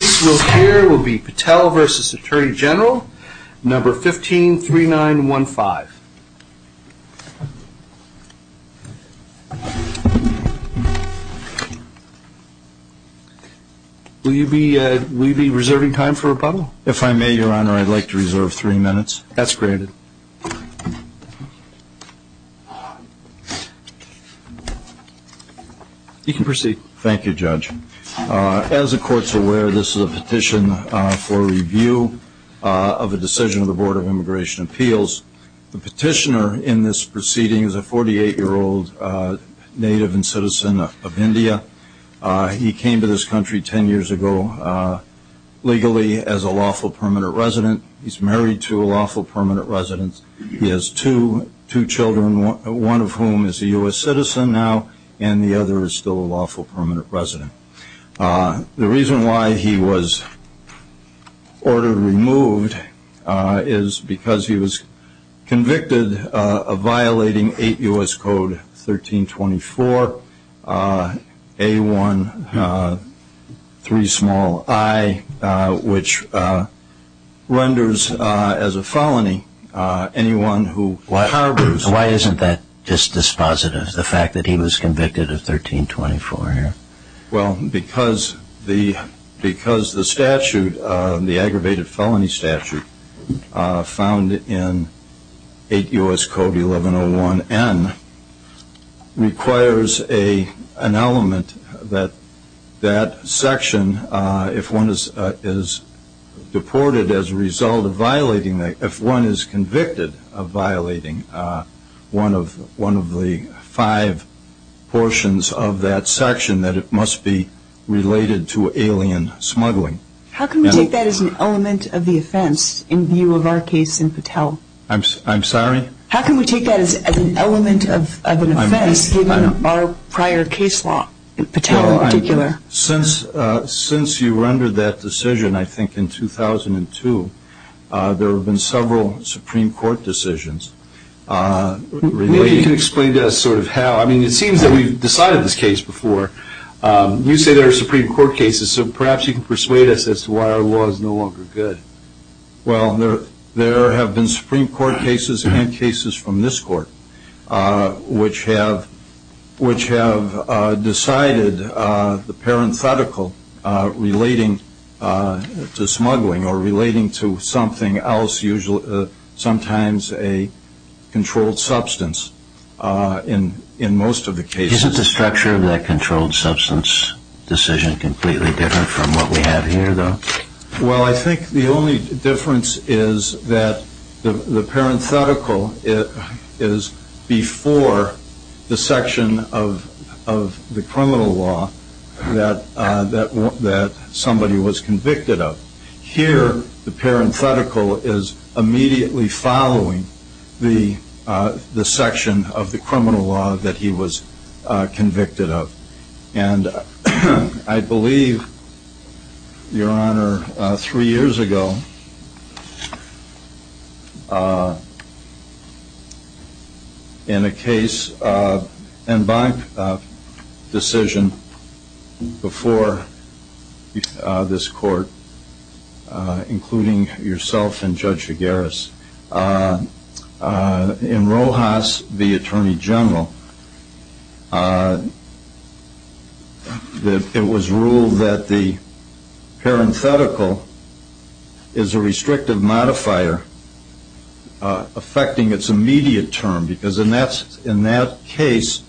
The case we'll hear will be Patel v. Attorney General, No. 153915. Will you be reserving time for rebuttal? If I may, Your Honor, I'd like to reserve three minutes. That's granted. You can proceed. Thank you, Judge. As the Court's aware, this is a petition for review of a decision of the Board of Immigration Appeals. The petitioner in this proceeding is a 48-year-old native and citizen of India. He came to this country 10 years ago legally as a lawful permanent resident. He's married to a lawful permanent resident. He has two children, one of whom is a U.S. citizen now, and the other is still a lawful permanent resident. The reason why he was ordered removed is because he was convicted of violating 8 U.S. Code 1324, A-1-3-i, which renders as a felony anyone who harbors... Why isn't that just dispositive, the fact that he was convicted of 1324? Well, because the statute, the aggravated felony statute found in 8 U.S. Code 1101N, requires an element that that section, if one is deported as a result of violating... that it must be related to alien smuggling. How can we take that as an element of the offense in view of our case in Patel? I'm sorry? How can we take that as an element of an offense given our prior case law, Patel in particular? Since you were under that decision, I think in 2002, there have been several Supreme Court decisions relating... You say there are Supreme Court cases, so perhaps you can persuade us as to why our law is no longer good. Well, there have been Supreme Court cases and cases from this Court, which have decided the parenthetical relating to smuggling, or relating to something else, sometimes a controlled substance, in most of the cases. Isn't the structure of that controlled substance decision completely different from what we have here, though? Well, I think the only difference is that the parenthetical is before the section of the criminal law that somebody was convicted of. Here, the parenthetical is immediately following the section of the criminal law that he was convicted of. And I believe, Your Honor, three years ago, in a case, and by decision, before this Court, including yourself and Judge Figueres, in Rojas v. Attorney General, it was ruled that the parenthetical is a restrictive modifier affecting its immediate term. Because in that case,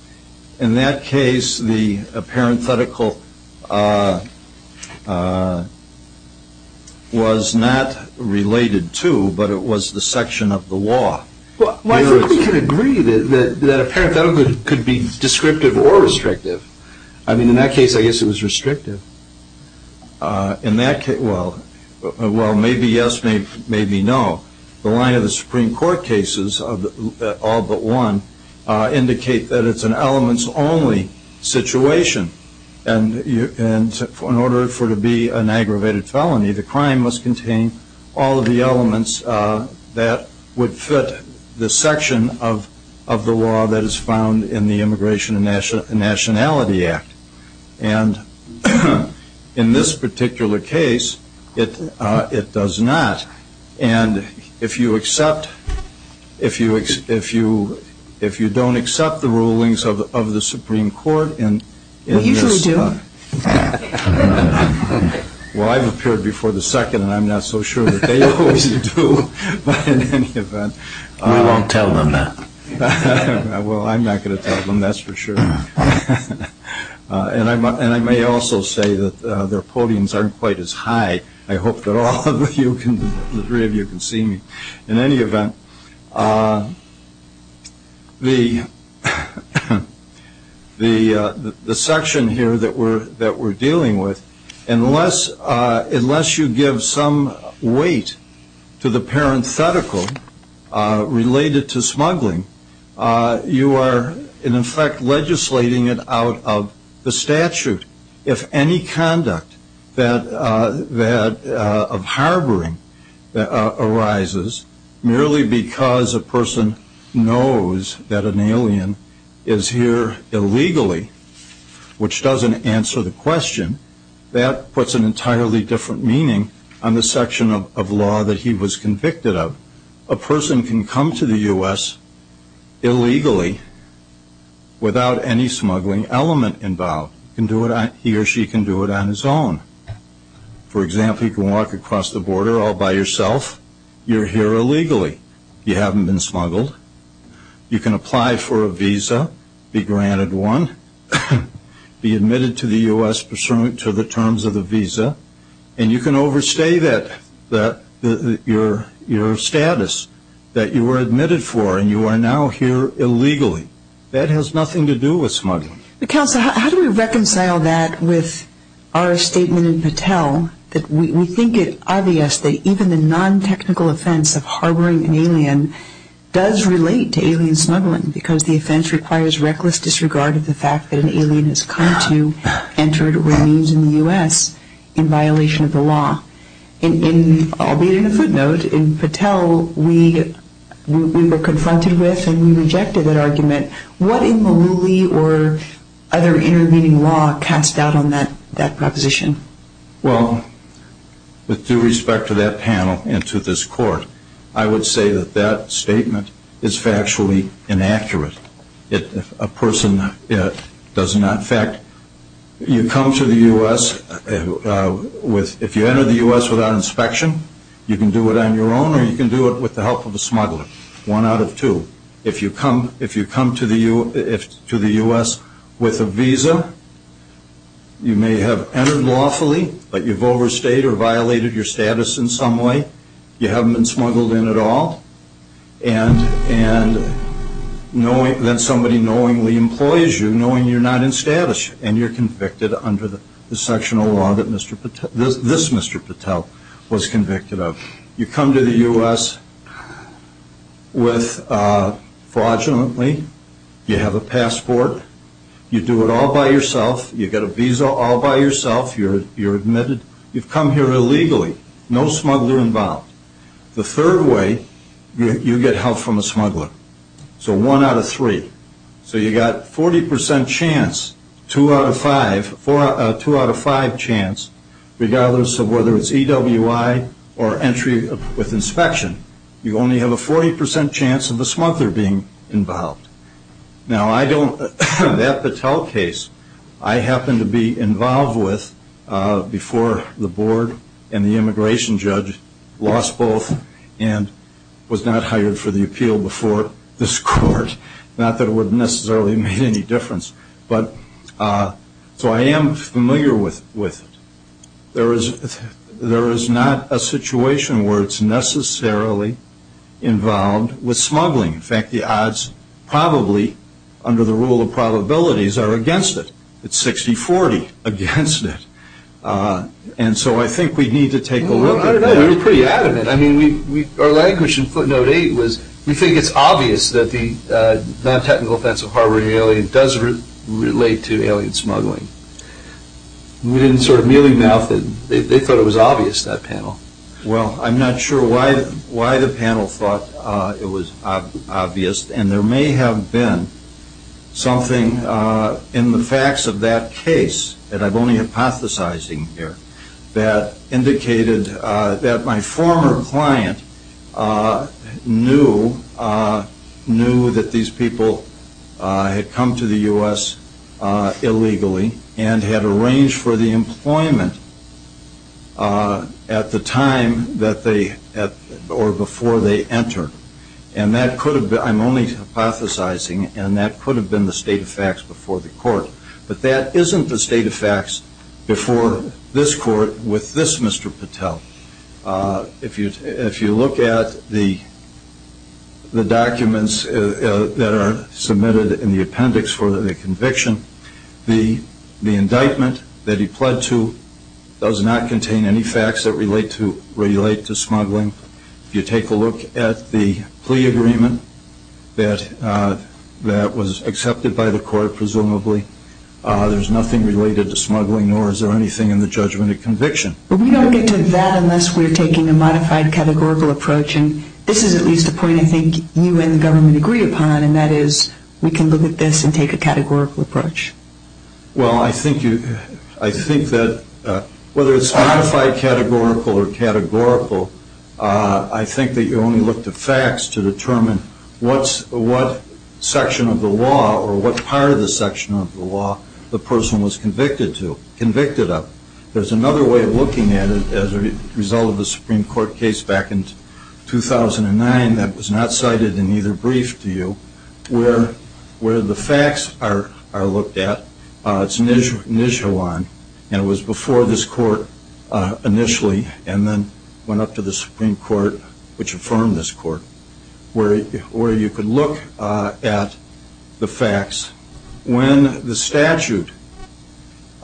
the parenthetical was not related to, but it was the section of the law. Well, I think we can agree that a parenthetical could be descriptive or restrictive. I mean, in that case, I guess it was restrictive. Well, maybe yes, maybe no. The line of the Supreme Court cases, all but one, indicate that it's an elements-only situation. And in order for it to be an aggravated felony, the crime must contain all of the elements that would fit the section of the law that is found in the Immigration and Nationality Act. And in this particular case, it does not. And if you accept, if you don't accept the rulings of the Supreme Court in this... We usually do. Well, I've appeared before the second, and I'm not so sure that they always do. But in any event... We won't tell them that. Well, I'm not going to tell them, that's for sure. And I may also say that their podiums aren't quite as high. I hope that all three of you can see me. In any event, the section here that we're dealing with, unless you give some weight to the parenthetical related to smuggling, you are in effect legislating it out of the statute. If any conduct of harboring arises merely because a person knows that an alien is here illegally, which doesn't answer the question, that puts an entirely different meaning on the section of law that he was convicted of. A person can come to the U.S. illegally without any smuggling element involved. He or she can do it on his own. For example, you can walk across the border all by yourself. You're here illegally. You haven't been smuggled. You can apply for a visa, be granted one, be admitted to the U.S. pursuant to the terms of the visa, and you can overstay your status that you were admitted for and you are now here illegally. That has nothing to do with smuggling. Counsel, how do we reconcile that with our statement in Patel that we think it obvious that even the non-technical offense of harboring an alien does relate to alien smuggling because the offense requires reckless disregard of the fact that an alien has come to, entered, or remains in the U.S. in violation of the law? In, albeit in a footnote, in Patel we were confronted with and we rejected that argument. What in Malooly or other intervening law cast doubt on that proposition? Well, with due respect to that panel and to this court, I would say that that statement is factually inaccurate. A person does not, in fact, you come to the U.S. with, if you enter the U.S. without inspection, you can do it on your own or you can do it with the help of a smuggler, one out of two. If you come to the U.S. with a visa, you may have entered lawfully, but you've overstayed or violated your status in some way. You haven't been smuggled in at all. And then somebody knowingly employs you knowing you're not in status and you're convicted under the section of law that this Mr. Patel was convicted of. You come to the U.S. with, fraudulently, you have a passport, you do it all by yourself, you get a visa all by yourself, you're admitted, you've come here illegally, no smuggler involved. The third way, you get help from a smuggler. So one out of three. So you've got 40% chance, two out of five chance, regardless of whether it's EWI or entry with inspection, you only have a 40% chance of a smuggler being involved. Now I don't, that Patel case, I happened to be involved with before the board and the immigration judge lost both and was not hired for the appeal before this court. Not that it would have necessarily made any difference. So I am familiar with it. There is not a situation where it's necessarily involved with smuggling. In fact, the odds probably, under the rule of probabilities, are against it. It's 60-40 against it. And so I think we need to take a look at it. I don't know, you're pretty adamant. I mean, our language in footnote eight was, we think it's obvious that the non-technical offense of harboring an alien does relate to alien smuggling. We didn't sort of mealy mouth it. They thought it was obvious, that panel. Well, I'm not sure why the panel thought it was obvious. And there may have been something in the facts of that case, and I'm only hypothesizing here, that indicated that my former client knew that these people had come to the U.S. illegally and had arranged for the employment at the time or before they entered. And that could have been, I'm only hypothesizing, and that could have been the state of facts before the court. But that isn't the state of facts before this court with this Mr. Patel. If you look at the documents that are submitted in the appendix for the conviction, the indictment that he pled to does not contain any facts that relate to smuggling. If you take a look at the plea agreement that was accepted by the court, presumably, there's nothing related to smuggling, nor is there anything in the judgment of conviction. But we don't get to that unless we're taking a modified categorical approach, and this is at least a point I think you and the government agree upon, and that is we can look at this and take a categorical approach. Well, I think that whether it's modified categorical or categorical, I think that you only look to facts to determine what section of the law or what part of the section of the law the person was convicted of. There's another way of looking at it as a result of a Supreme Court case back in 2009 that was not cited in either brief to you where the facts are looked at. It's Nijhawan, and it was before this court initially and then went up to the Supreme Court, which affirmed this court, where you could look at the facts when the statute,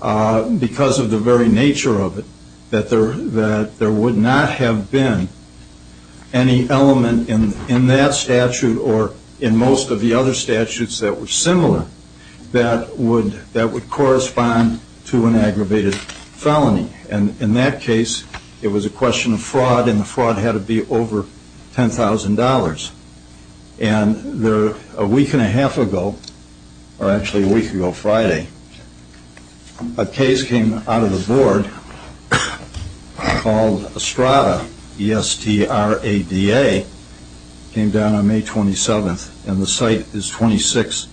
because of the very nature of it, that there would not have been any element in that statute or in most of the other statutes that were similar that would correspond to an aggravated felony. And in that case, it was a question of fraud, and the fraud had to be over $10,000. And a week and a half ago, or actually a week ago Friday, a case came out of the board called Estrada, E-S-T-R-A-D-A, came down on May 27th, and the site is 26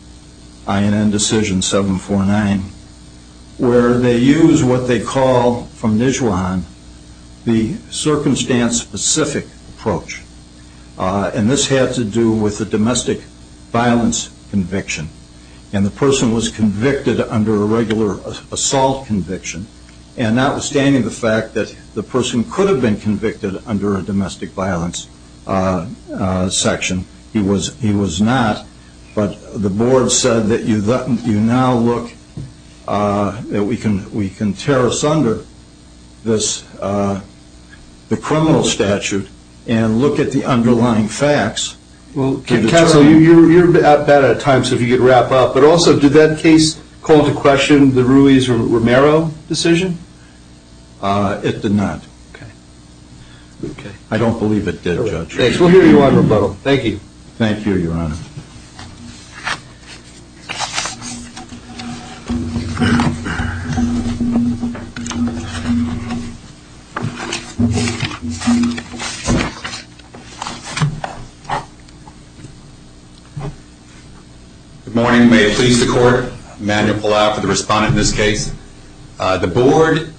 INN Decision 749, where they use what they call from Nijhawan the circumstance-specific approach. And this had to do with the domestic violence conviction, and the person was convicted under a regular assault conviction. And notwithstanding the fact that the person could have been convicted under a domestic violence section, he was not, but the board said that you now look, that we can tear asunder the criminal statute and look at the underlying facts. Well, counsel, you're out of time, so if you could wrap up. But also, did that case call to question the Ruiz-Romero decision? It did not. Okay. I don't believe it did, Judge. Thanks. We'll hear you on rebuttal. Thank you. Thank you, Your Honor. Good morning. May it please the Court. Emmanuel Palau for the respondent in this case. The board,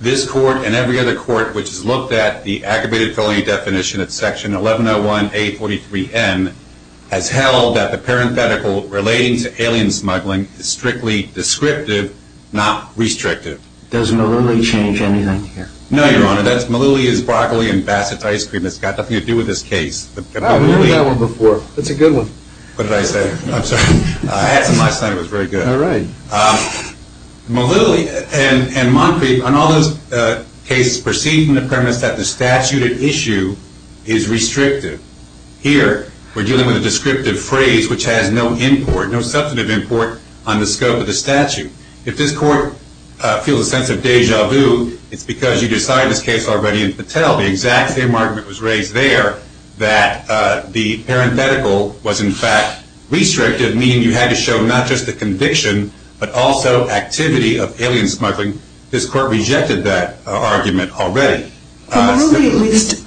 this Court, and every other court which has looked at the aggravated felony definition at Section 1101A43N has held that the parenthetical relating to alien smuggling is strictly descriptive, not restrictive. Does Malili change anything here? No, Your Honor. Malili is broccoli and Bassett ice cream. It's got nothing to do with this case. I've heard that one before. It's a good one. What did I say? I'm sorry. I had some last night. It was very good. All right. Malili and Moncrief, on all those cases, proceed from the premise that the statute at issue is restrictive. Here, we're dealing with a descriptive phrase which has no import, no substantive import, on the scope of the statute. If this Court feels a sense of deja vu, it's because you decided this case already in Patel. The exact same argument was raised there that the parenthetical was, in fact, restrictive, meaning you had to show not just the conviction but also activity of alien smuggling. This Court rejected that argument already. Well, Malili at least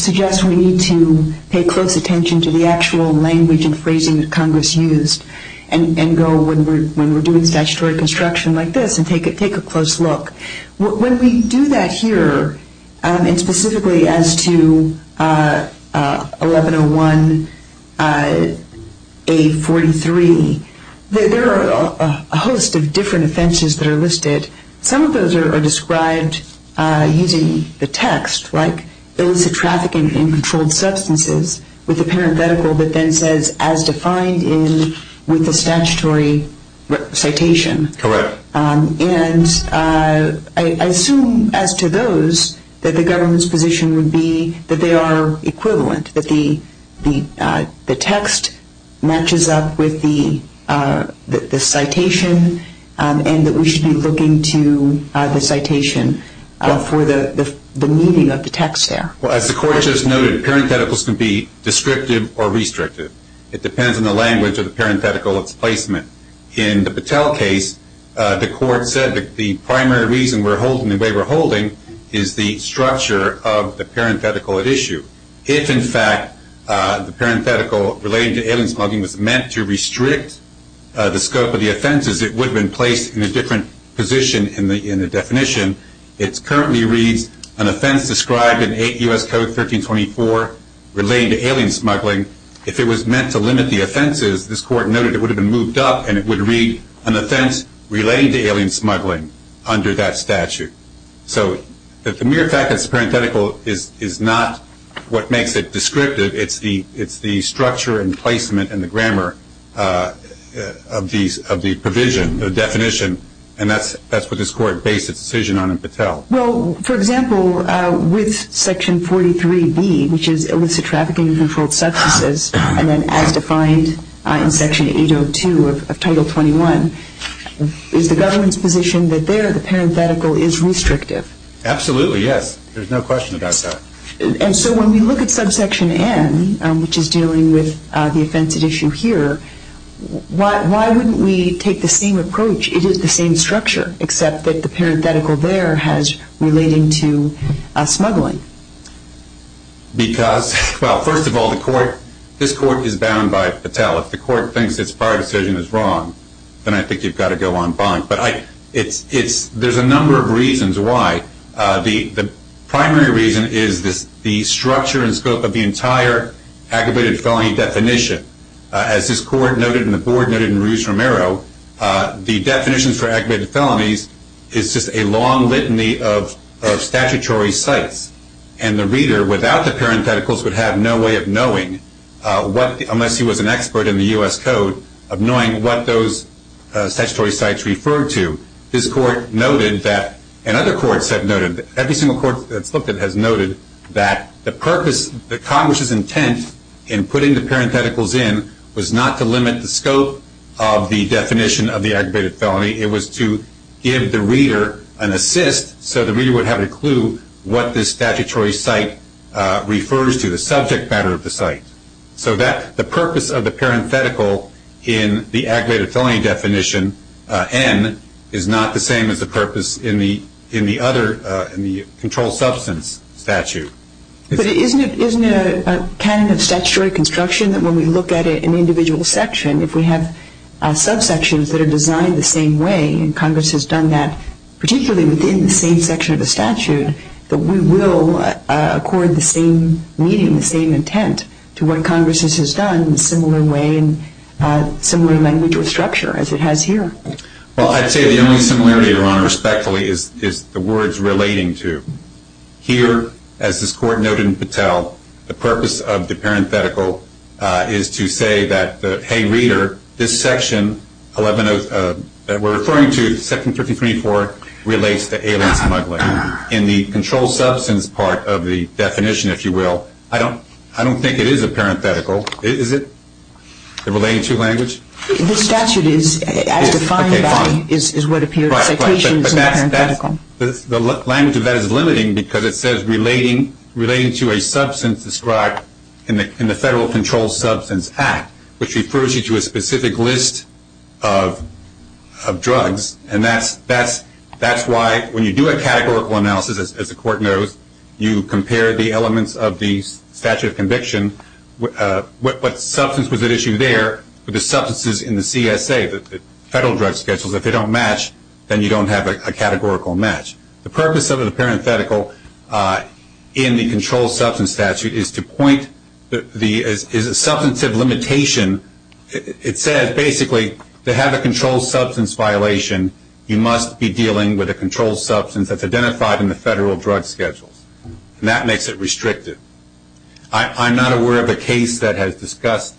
suggests we need to pay close attention to the actual language and phrasing that Congress used and go when we're doing statutory construction like this and take a close look. When we do that here, and specifically as to 1101A43, there are a host of different offenses that are listed. Some of those are described using the text like illicit trafficking in controlled substances with a parenthetical that then says as defined in the statutory citation. Correct. And I assume as to those that the government's position would be that they are equivalent, that the text matches up with the citation and that we should be looking to the citation for the meaning of the text there. Well, as the Court just noted, parentheticals can be descriptive or restrictive. It depends on the language of the parenthetical, its placement. In the Patel case, the Court said that the primary reason we're holding the way we're holding is the structure of the parenthetical at issue. If, in fact, the parenthetical relating to alien smuggling was meant to restrict the scope of the offenses, it would have been placed in a different position in the definition. It currently reads an offense described in 8 U.S. Code 1324 relating to alien smuggling. If it was meant to limit the offenses, this Court noted it would have been moved up and it would read an offense relating to alien smuggling under that statute. So the mere fact that it's a parenthetical is not what makes it descriptive. It's the structure and placement and the grammar of the provision, the definition, and that's what this Court based its decision on in Patel. Well, for example, with Section 43B, which is illicit trafficking and controlled substances, and then as defined in Section 802 of Title 21, is the government's position that there the parenthetical is restrictive? Absolutely, yes. There's no question about that. And so when we look at Subsection N, which is dealing with the offensive issue here, why wouldn't we take the same approach? It is the same structure, except that the parenthetical there has relating to smuggling. Because, well, first of all, this Court is bound by Patel. If the Court thinks its prior decision is wrong, then I think you've got to go on bond. But there's a number of reasons why. The primary reason is the structure and scope of the entire aggravated felony definition. As this Court noted and the Board noted in Rouge Romero, the definitions for aggravated felonies is just a long litany of statutory sites. And the reader, without the parentheticals, would have no way of knowing, unless he was an expert in the U.S. Code, of knowing what those statutory sites referred to. This Court noted that, and other courts have noted, every single court that's looked at has noted that the purpose, the Congress's intent in putting the parentheticals in was not to limit the scope of the definition of the aggravated felony. It was to give the reader an assist so the reader would have a clue what this statutory site refers to, the subject matter of the site. So the purpose of the parenthetical in the aggravated felony definition, N, is not the same as the purpose in the other, in the controlled substance statute. But isn't it a canon of statutory construction that when we look at an individual section, if we have subsections that are designed the same way, and Congress has done that, particularly within the same section of the statute, that we will accord the same meaning, the same intent, to what Congress has done in a similar way and similar language or structure as it has here? Well, I'd say the only similarity, Your Honor, respectfully, is the words relating to. Here, as this Court noted in Patel, the purpose of the parenthetical is to say that, hey, reader, this section 11 of, that we're referring to, section 33.4, relates to alien smuggling. In the controlled substance part of the definition, if you will, I don't think it is a parenthetical. Is it? The relating to language? The statute is, as defined by, is what appears in the citations in the parenthetical. The language of that is limiting because it says, relating to a substance described in the Federal Controlled Substance Act, which refers you to a specific list of drugs. And that's why when you do a categorical analysis, as the Court knows, you compare the elements of the statute of conviction, what substance was at issue there with the substances in the CSA, the federal drug schedules, if they don't match, then you don't have a categorical match. The purpose of the parenthetical in the controlled substance statute is to point, is a substantive limitation. It says, basically, to have a controlled substance violation, you must be dealing with a controlled substance that's identified in the federal drug schedules. And that makes it restrictive. I'm not aware of a case that has discussed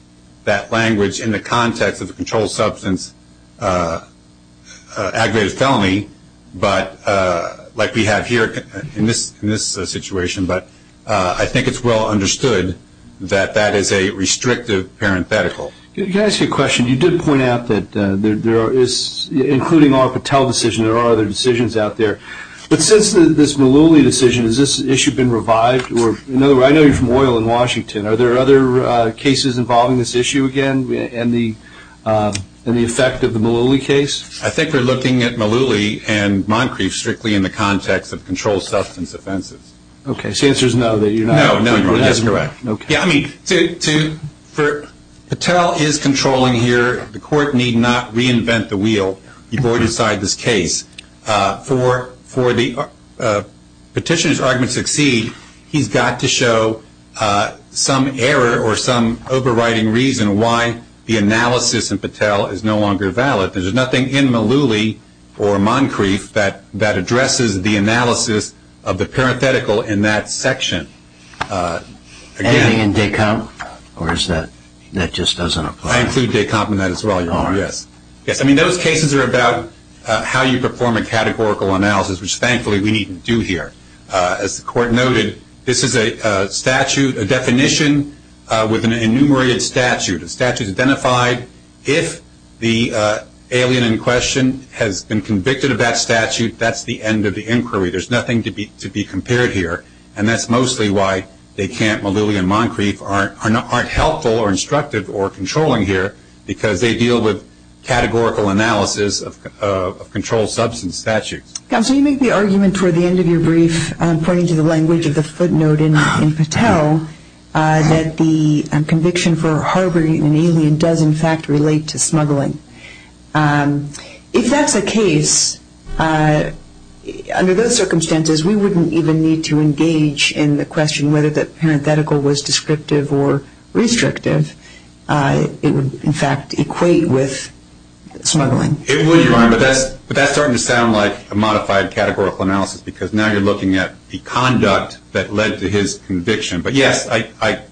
that language in the context of a controlled substance aggravated felony, but like we have here in this situation, but I think it's well understood that that is a restrictive parenthetical. Can I ask you a question? You did point out that there is, including our Patel decision, there are other decisions out there. But since this Mullooly decision, has this issue been revived? I know you're from OIL in Washington. Are there other cases involving this issue again and the effect of the Mullooly case? I think we're looking at Mullooly and Moncrief strictly in the context of controlled substance offenses. Okay, so the answer is no, that you're not? No, you're correct. Okay. I mean, Patel is controlling here. The Court need not reinvent the wheel before you decide this case. For the petitioner's argument to succeed, he's got to show some error or some overriding reason why the analysis in Patel is no longer valid. There's nothing in Mullooly or Moncrief that addresses the analysis of the parenthetical in that section. Anything in Descamp? Or is that just doesn't apply? I include Descamp in that as well, yes. Yes, I mean, those cases are about how you perform a categorical analysis, which thankfully we needn't do here. As the Court noted, this is a statute, a definition with an enumerated statute. The statute is identified. If the alien in question has been convicted of that statute, that's the end of the inquiry. There's nothing to be compared here, and that's mostly why Descamp, Mullooly, and Moncrief aren't helpful or instructive or controlling here, because they deal with categorical analysis of controlled substance statutes. Counsel, you make the argument toward the end of your brief, pointing to the language of the footnote in Patel, that the conviction for harboring an alien does, in fact, relate to smuggling. If that's the case, under those circumstances, we wouldn't even need to engage in the question whether the parenthetical was descriptive or restrictive. It would, in fact, equate with smuggling. It would, Your Honor, but that's starting to sound like a modified categorical analysis because now you're looking at the conduct that led to his conviction. But, yes,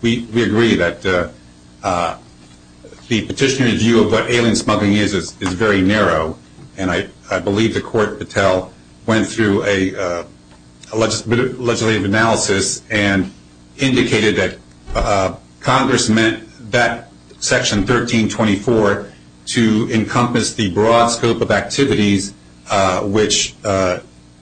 we agree that the petitioner's view of what alien smuggling is is very narrow, and I believe the Court, Patel, went through a legislative analysis and indicated that Congress meant that Section 1324 to encompass the broad scope of activities which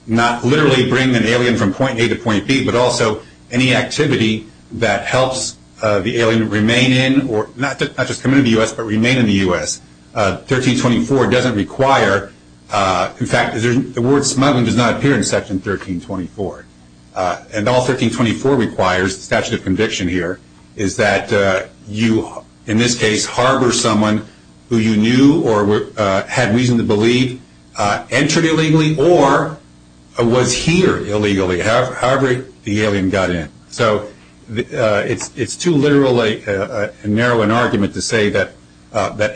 not literally bring an alien from point A to point B, but also any activity that helps the alien remain in or not just come into the U.S., but remain in the U.S. 1324 doesn't require, in fact, the word smuggling does not appear in Section 1324. And all 1324 requires, the statute of conviction here, is that you, in this case, harbor someone who you knew or had reason to believe entered illegally or was here illegally, however the alien got in. So it's too literally narrow an argument to say that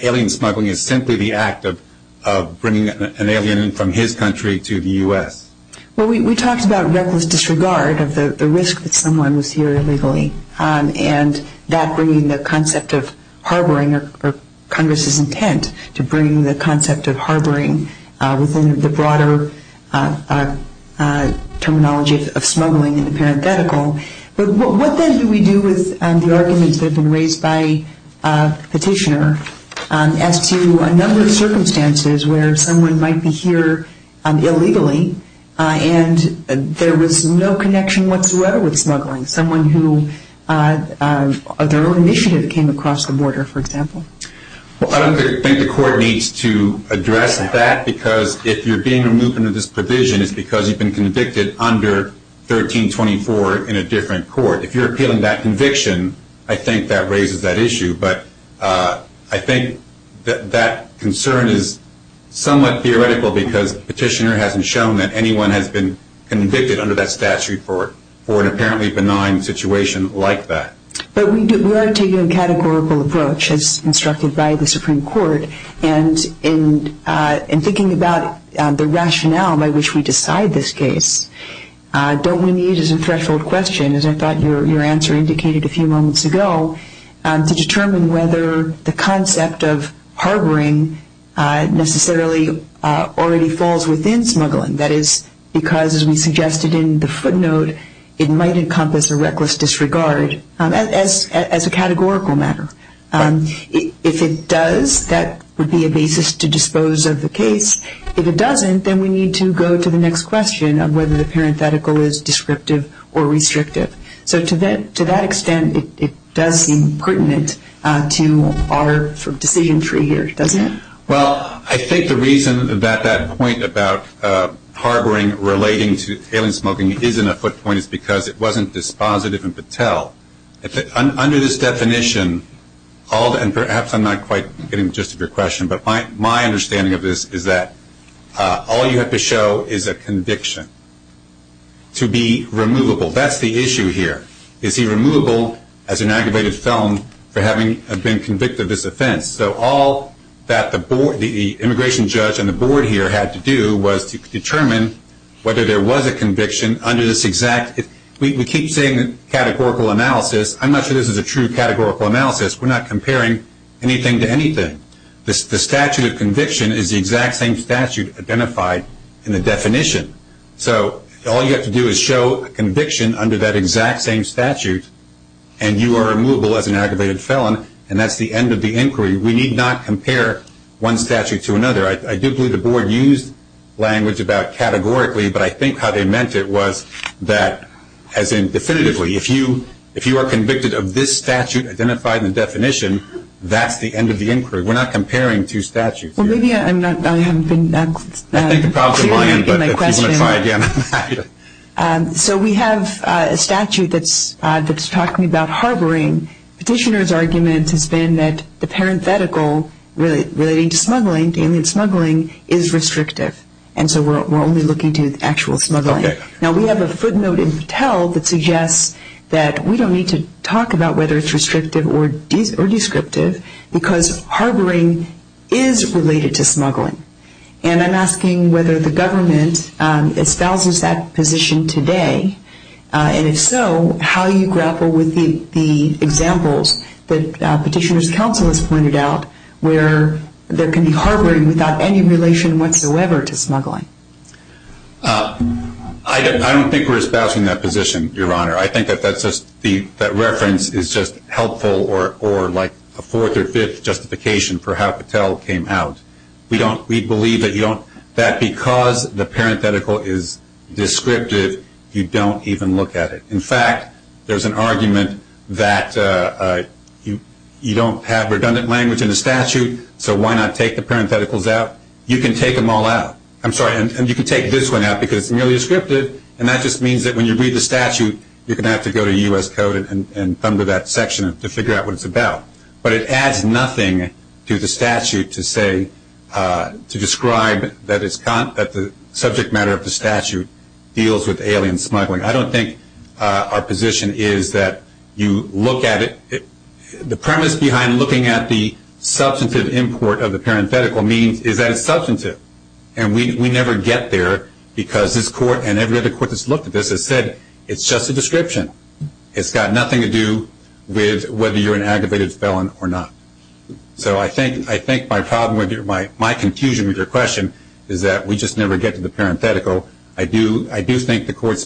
alien smuggling is simply the act of bringing an alien from his country to the U.S. Well, we talked about reckless disregard of the risk that someone was here illegally and that bringing the concept of harboring or Congress's intent to bring the concept of harboring within the broader terminology of smuggling into parenthetical. But what then do we do with the arguments that have been raised by the petitioner as to a number of circumstances where someone might be here illegally and there was no connection whatsoever with smuggling, someone who their own initiative came across the border, for example? Well, I don't think the court needs to address that because if you're being removed under this provision, it's because you've been convicted under 1324 in a different court. If you're appealing that conviction, I think that raises that issue. But I think that concern is somewhat theoretical because the petitioner hasn't shown that anyone has been convicted under that statute for an apparently benign situation like that. But we are taking a categorical approach, as instructed by the Supreme Court, and in thinking about the rationale by which we decide this case, don't we need as a threshold question, as I thought your answer indicated a few moments ago, to determine whether the concept of harboring necessarily already falls within smuggling. That is because, as we suggested in the footnote, it might encompass a reckless disregard as a categorical matter. If it does, that would be a basis to dispose of the case. If it doesn't, then we need to go to the next question of whether the parenthetical is descriptive or restrictive. So to that extent, it does seem pertinent to our decision tree here, doesn't it? Well, I think the reason that that point about harboring relating to alien smoking is in a footnote is because it wasn't dispositive in Patel. Under this definition, and perhaps I'm not quite getting the gist of your question, but my understanding of this is that all you have to show is a conviction to be removable. That's the issue here. Is he removable as an aggravated felon for having been convicted of this offense? So all that the immigration judge and the board here had to do was to determine whether there was a conviction under this exact – we keep saying categorical analysis. I'm not sure this is a true categorical analysis. We're not comparing anything to anything. The statute of conviction is the exact same statute identified in the definition. So all you have to do is show a conviction under that exact same statute and you are removable as an aggravated felon, and that's the end of the inquiry. We need not compare one statute to another. I do believe the board used language about categorically, but I think how they meant it was that, as in definitively, if you are convicted of this statute identified in the definition, that's the end of the inquiry. We're not comparing two statutes. Well, maybe I'm not – I haven't been clear in my question. I think the problem's aligned, but if you want to try again. So we have a statute that's talking about harboring. Petitioner's argument has been that the parenthetical relating to smuggling, alien smuggling, is restrictive, and so we're only looking to actual smuggling. Now, we have a footnote in Patel that suggests that we don't need to talk about whether it's restrictive or descriptive because harboring is related to smuggling, and I'm asking whether the government espouses that position today, and if so, how you grapple with the examples that Petitioner's counsel has pointed out where there can be harboring without any relation whatsoever to smuggling. I don't think we're espousing that position, Your Honor. I think that that's just – that reference is just helpful or like a fourth or fifth justification for how Patel came out. We don't – we believe that you don't – that because the parenthetical is descriptive, you don't even look at it. In fact, there's an argument that you don't have redundant language in the statute, so why not take the parentheticals out? You can take them all out. I'm sorry, and you can take this one out because it's nearly descriptive, and that just means that when you read the statute, you're going to have to go to U.S. Code and thumb to that section to figure out what it's about. But it adds nothing to the statute to say – to describe that the subject matter of the statute deals with alien smuggling. I don't think our position is that you look at it – the premise behind looking at the substantive import of the parenthetical means is that it's substantive, and we never get there because this court and every other court that's looked at this has said it's just a description. It's got nothing to do with whether you're an aggravated felon or not. So I think my problem with your – my confusion with your question is that we just never get to the parenthetical. I do think the court's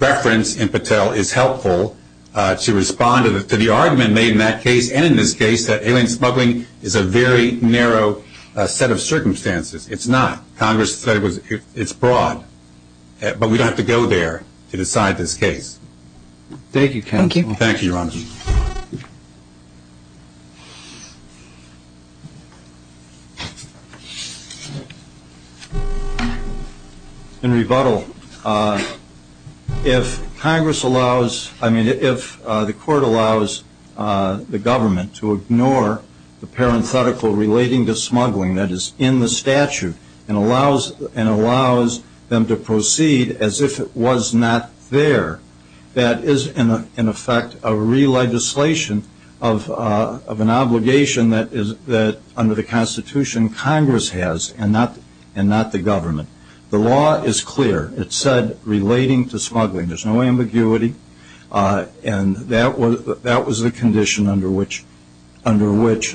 reference in Patel is helpful to respond to the argument made in that case and in this case that alien smuggling is a very narrow set of circumstances. It's not. Congress said it's broad, but we don't have to go there to decide this case. Thank you, counsel. Thank you, Your Honor. In rebuttal, if Congress allows – I mean, if the court allows the government to ignore the parenthetical relating to smuggling that is in the statute and allows them to proceed as if it was not there, that is in effect a re-legislation of an obligation that under the Constitution Congress has and not the government. The law is clear. There's no ambiguity. And that was the condition under which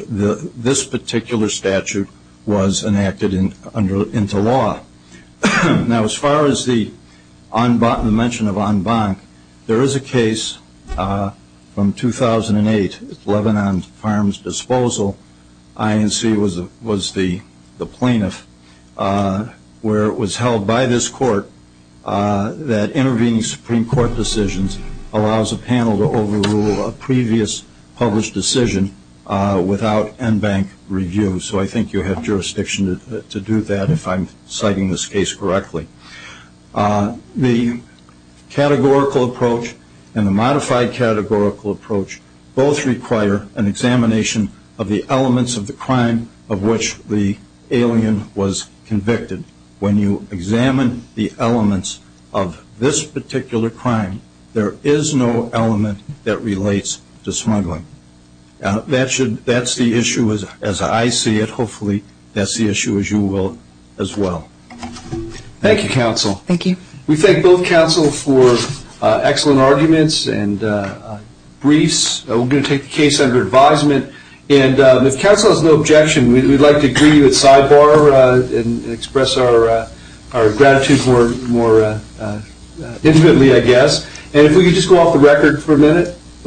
this particular statute was enacted into law. Now, as far as the mention of en banc, there is a case from 2008, Lebanon Farms Disposal. INC was the plaintiff, where it was held by this court that intervening Supreme Court decisions allows a panel to overrule a previous published decision without en banc review. So I think you have jurisdiction to do that if I'm citing this case correctly. The categorical approach and the modified categorical approach both require an examination of the elements of the crime of which the alien was convicted. When you examine the elements of this particular crime, there is no element that relates to smuggling. That's the issue as I see it. Thank you, counsel. Thank you. We thank both counsel for excellent arguments and briefs. We're going to take the case under advisement. And if counsel has no objection, we'd like to greet you at sidebar and express our gratitude more intimately, I guess. And if we could just go off the record for a minute.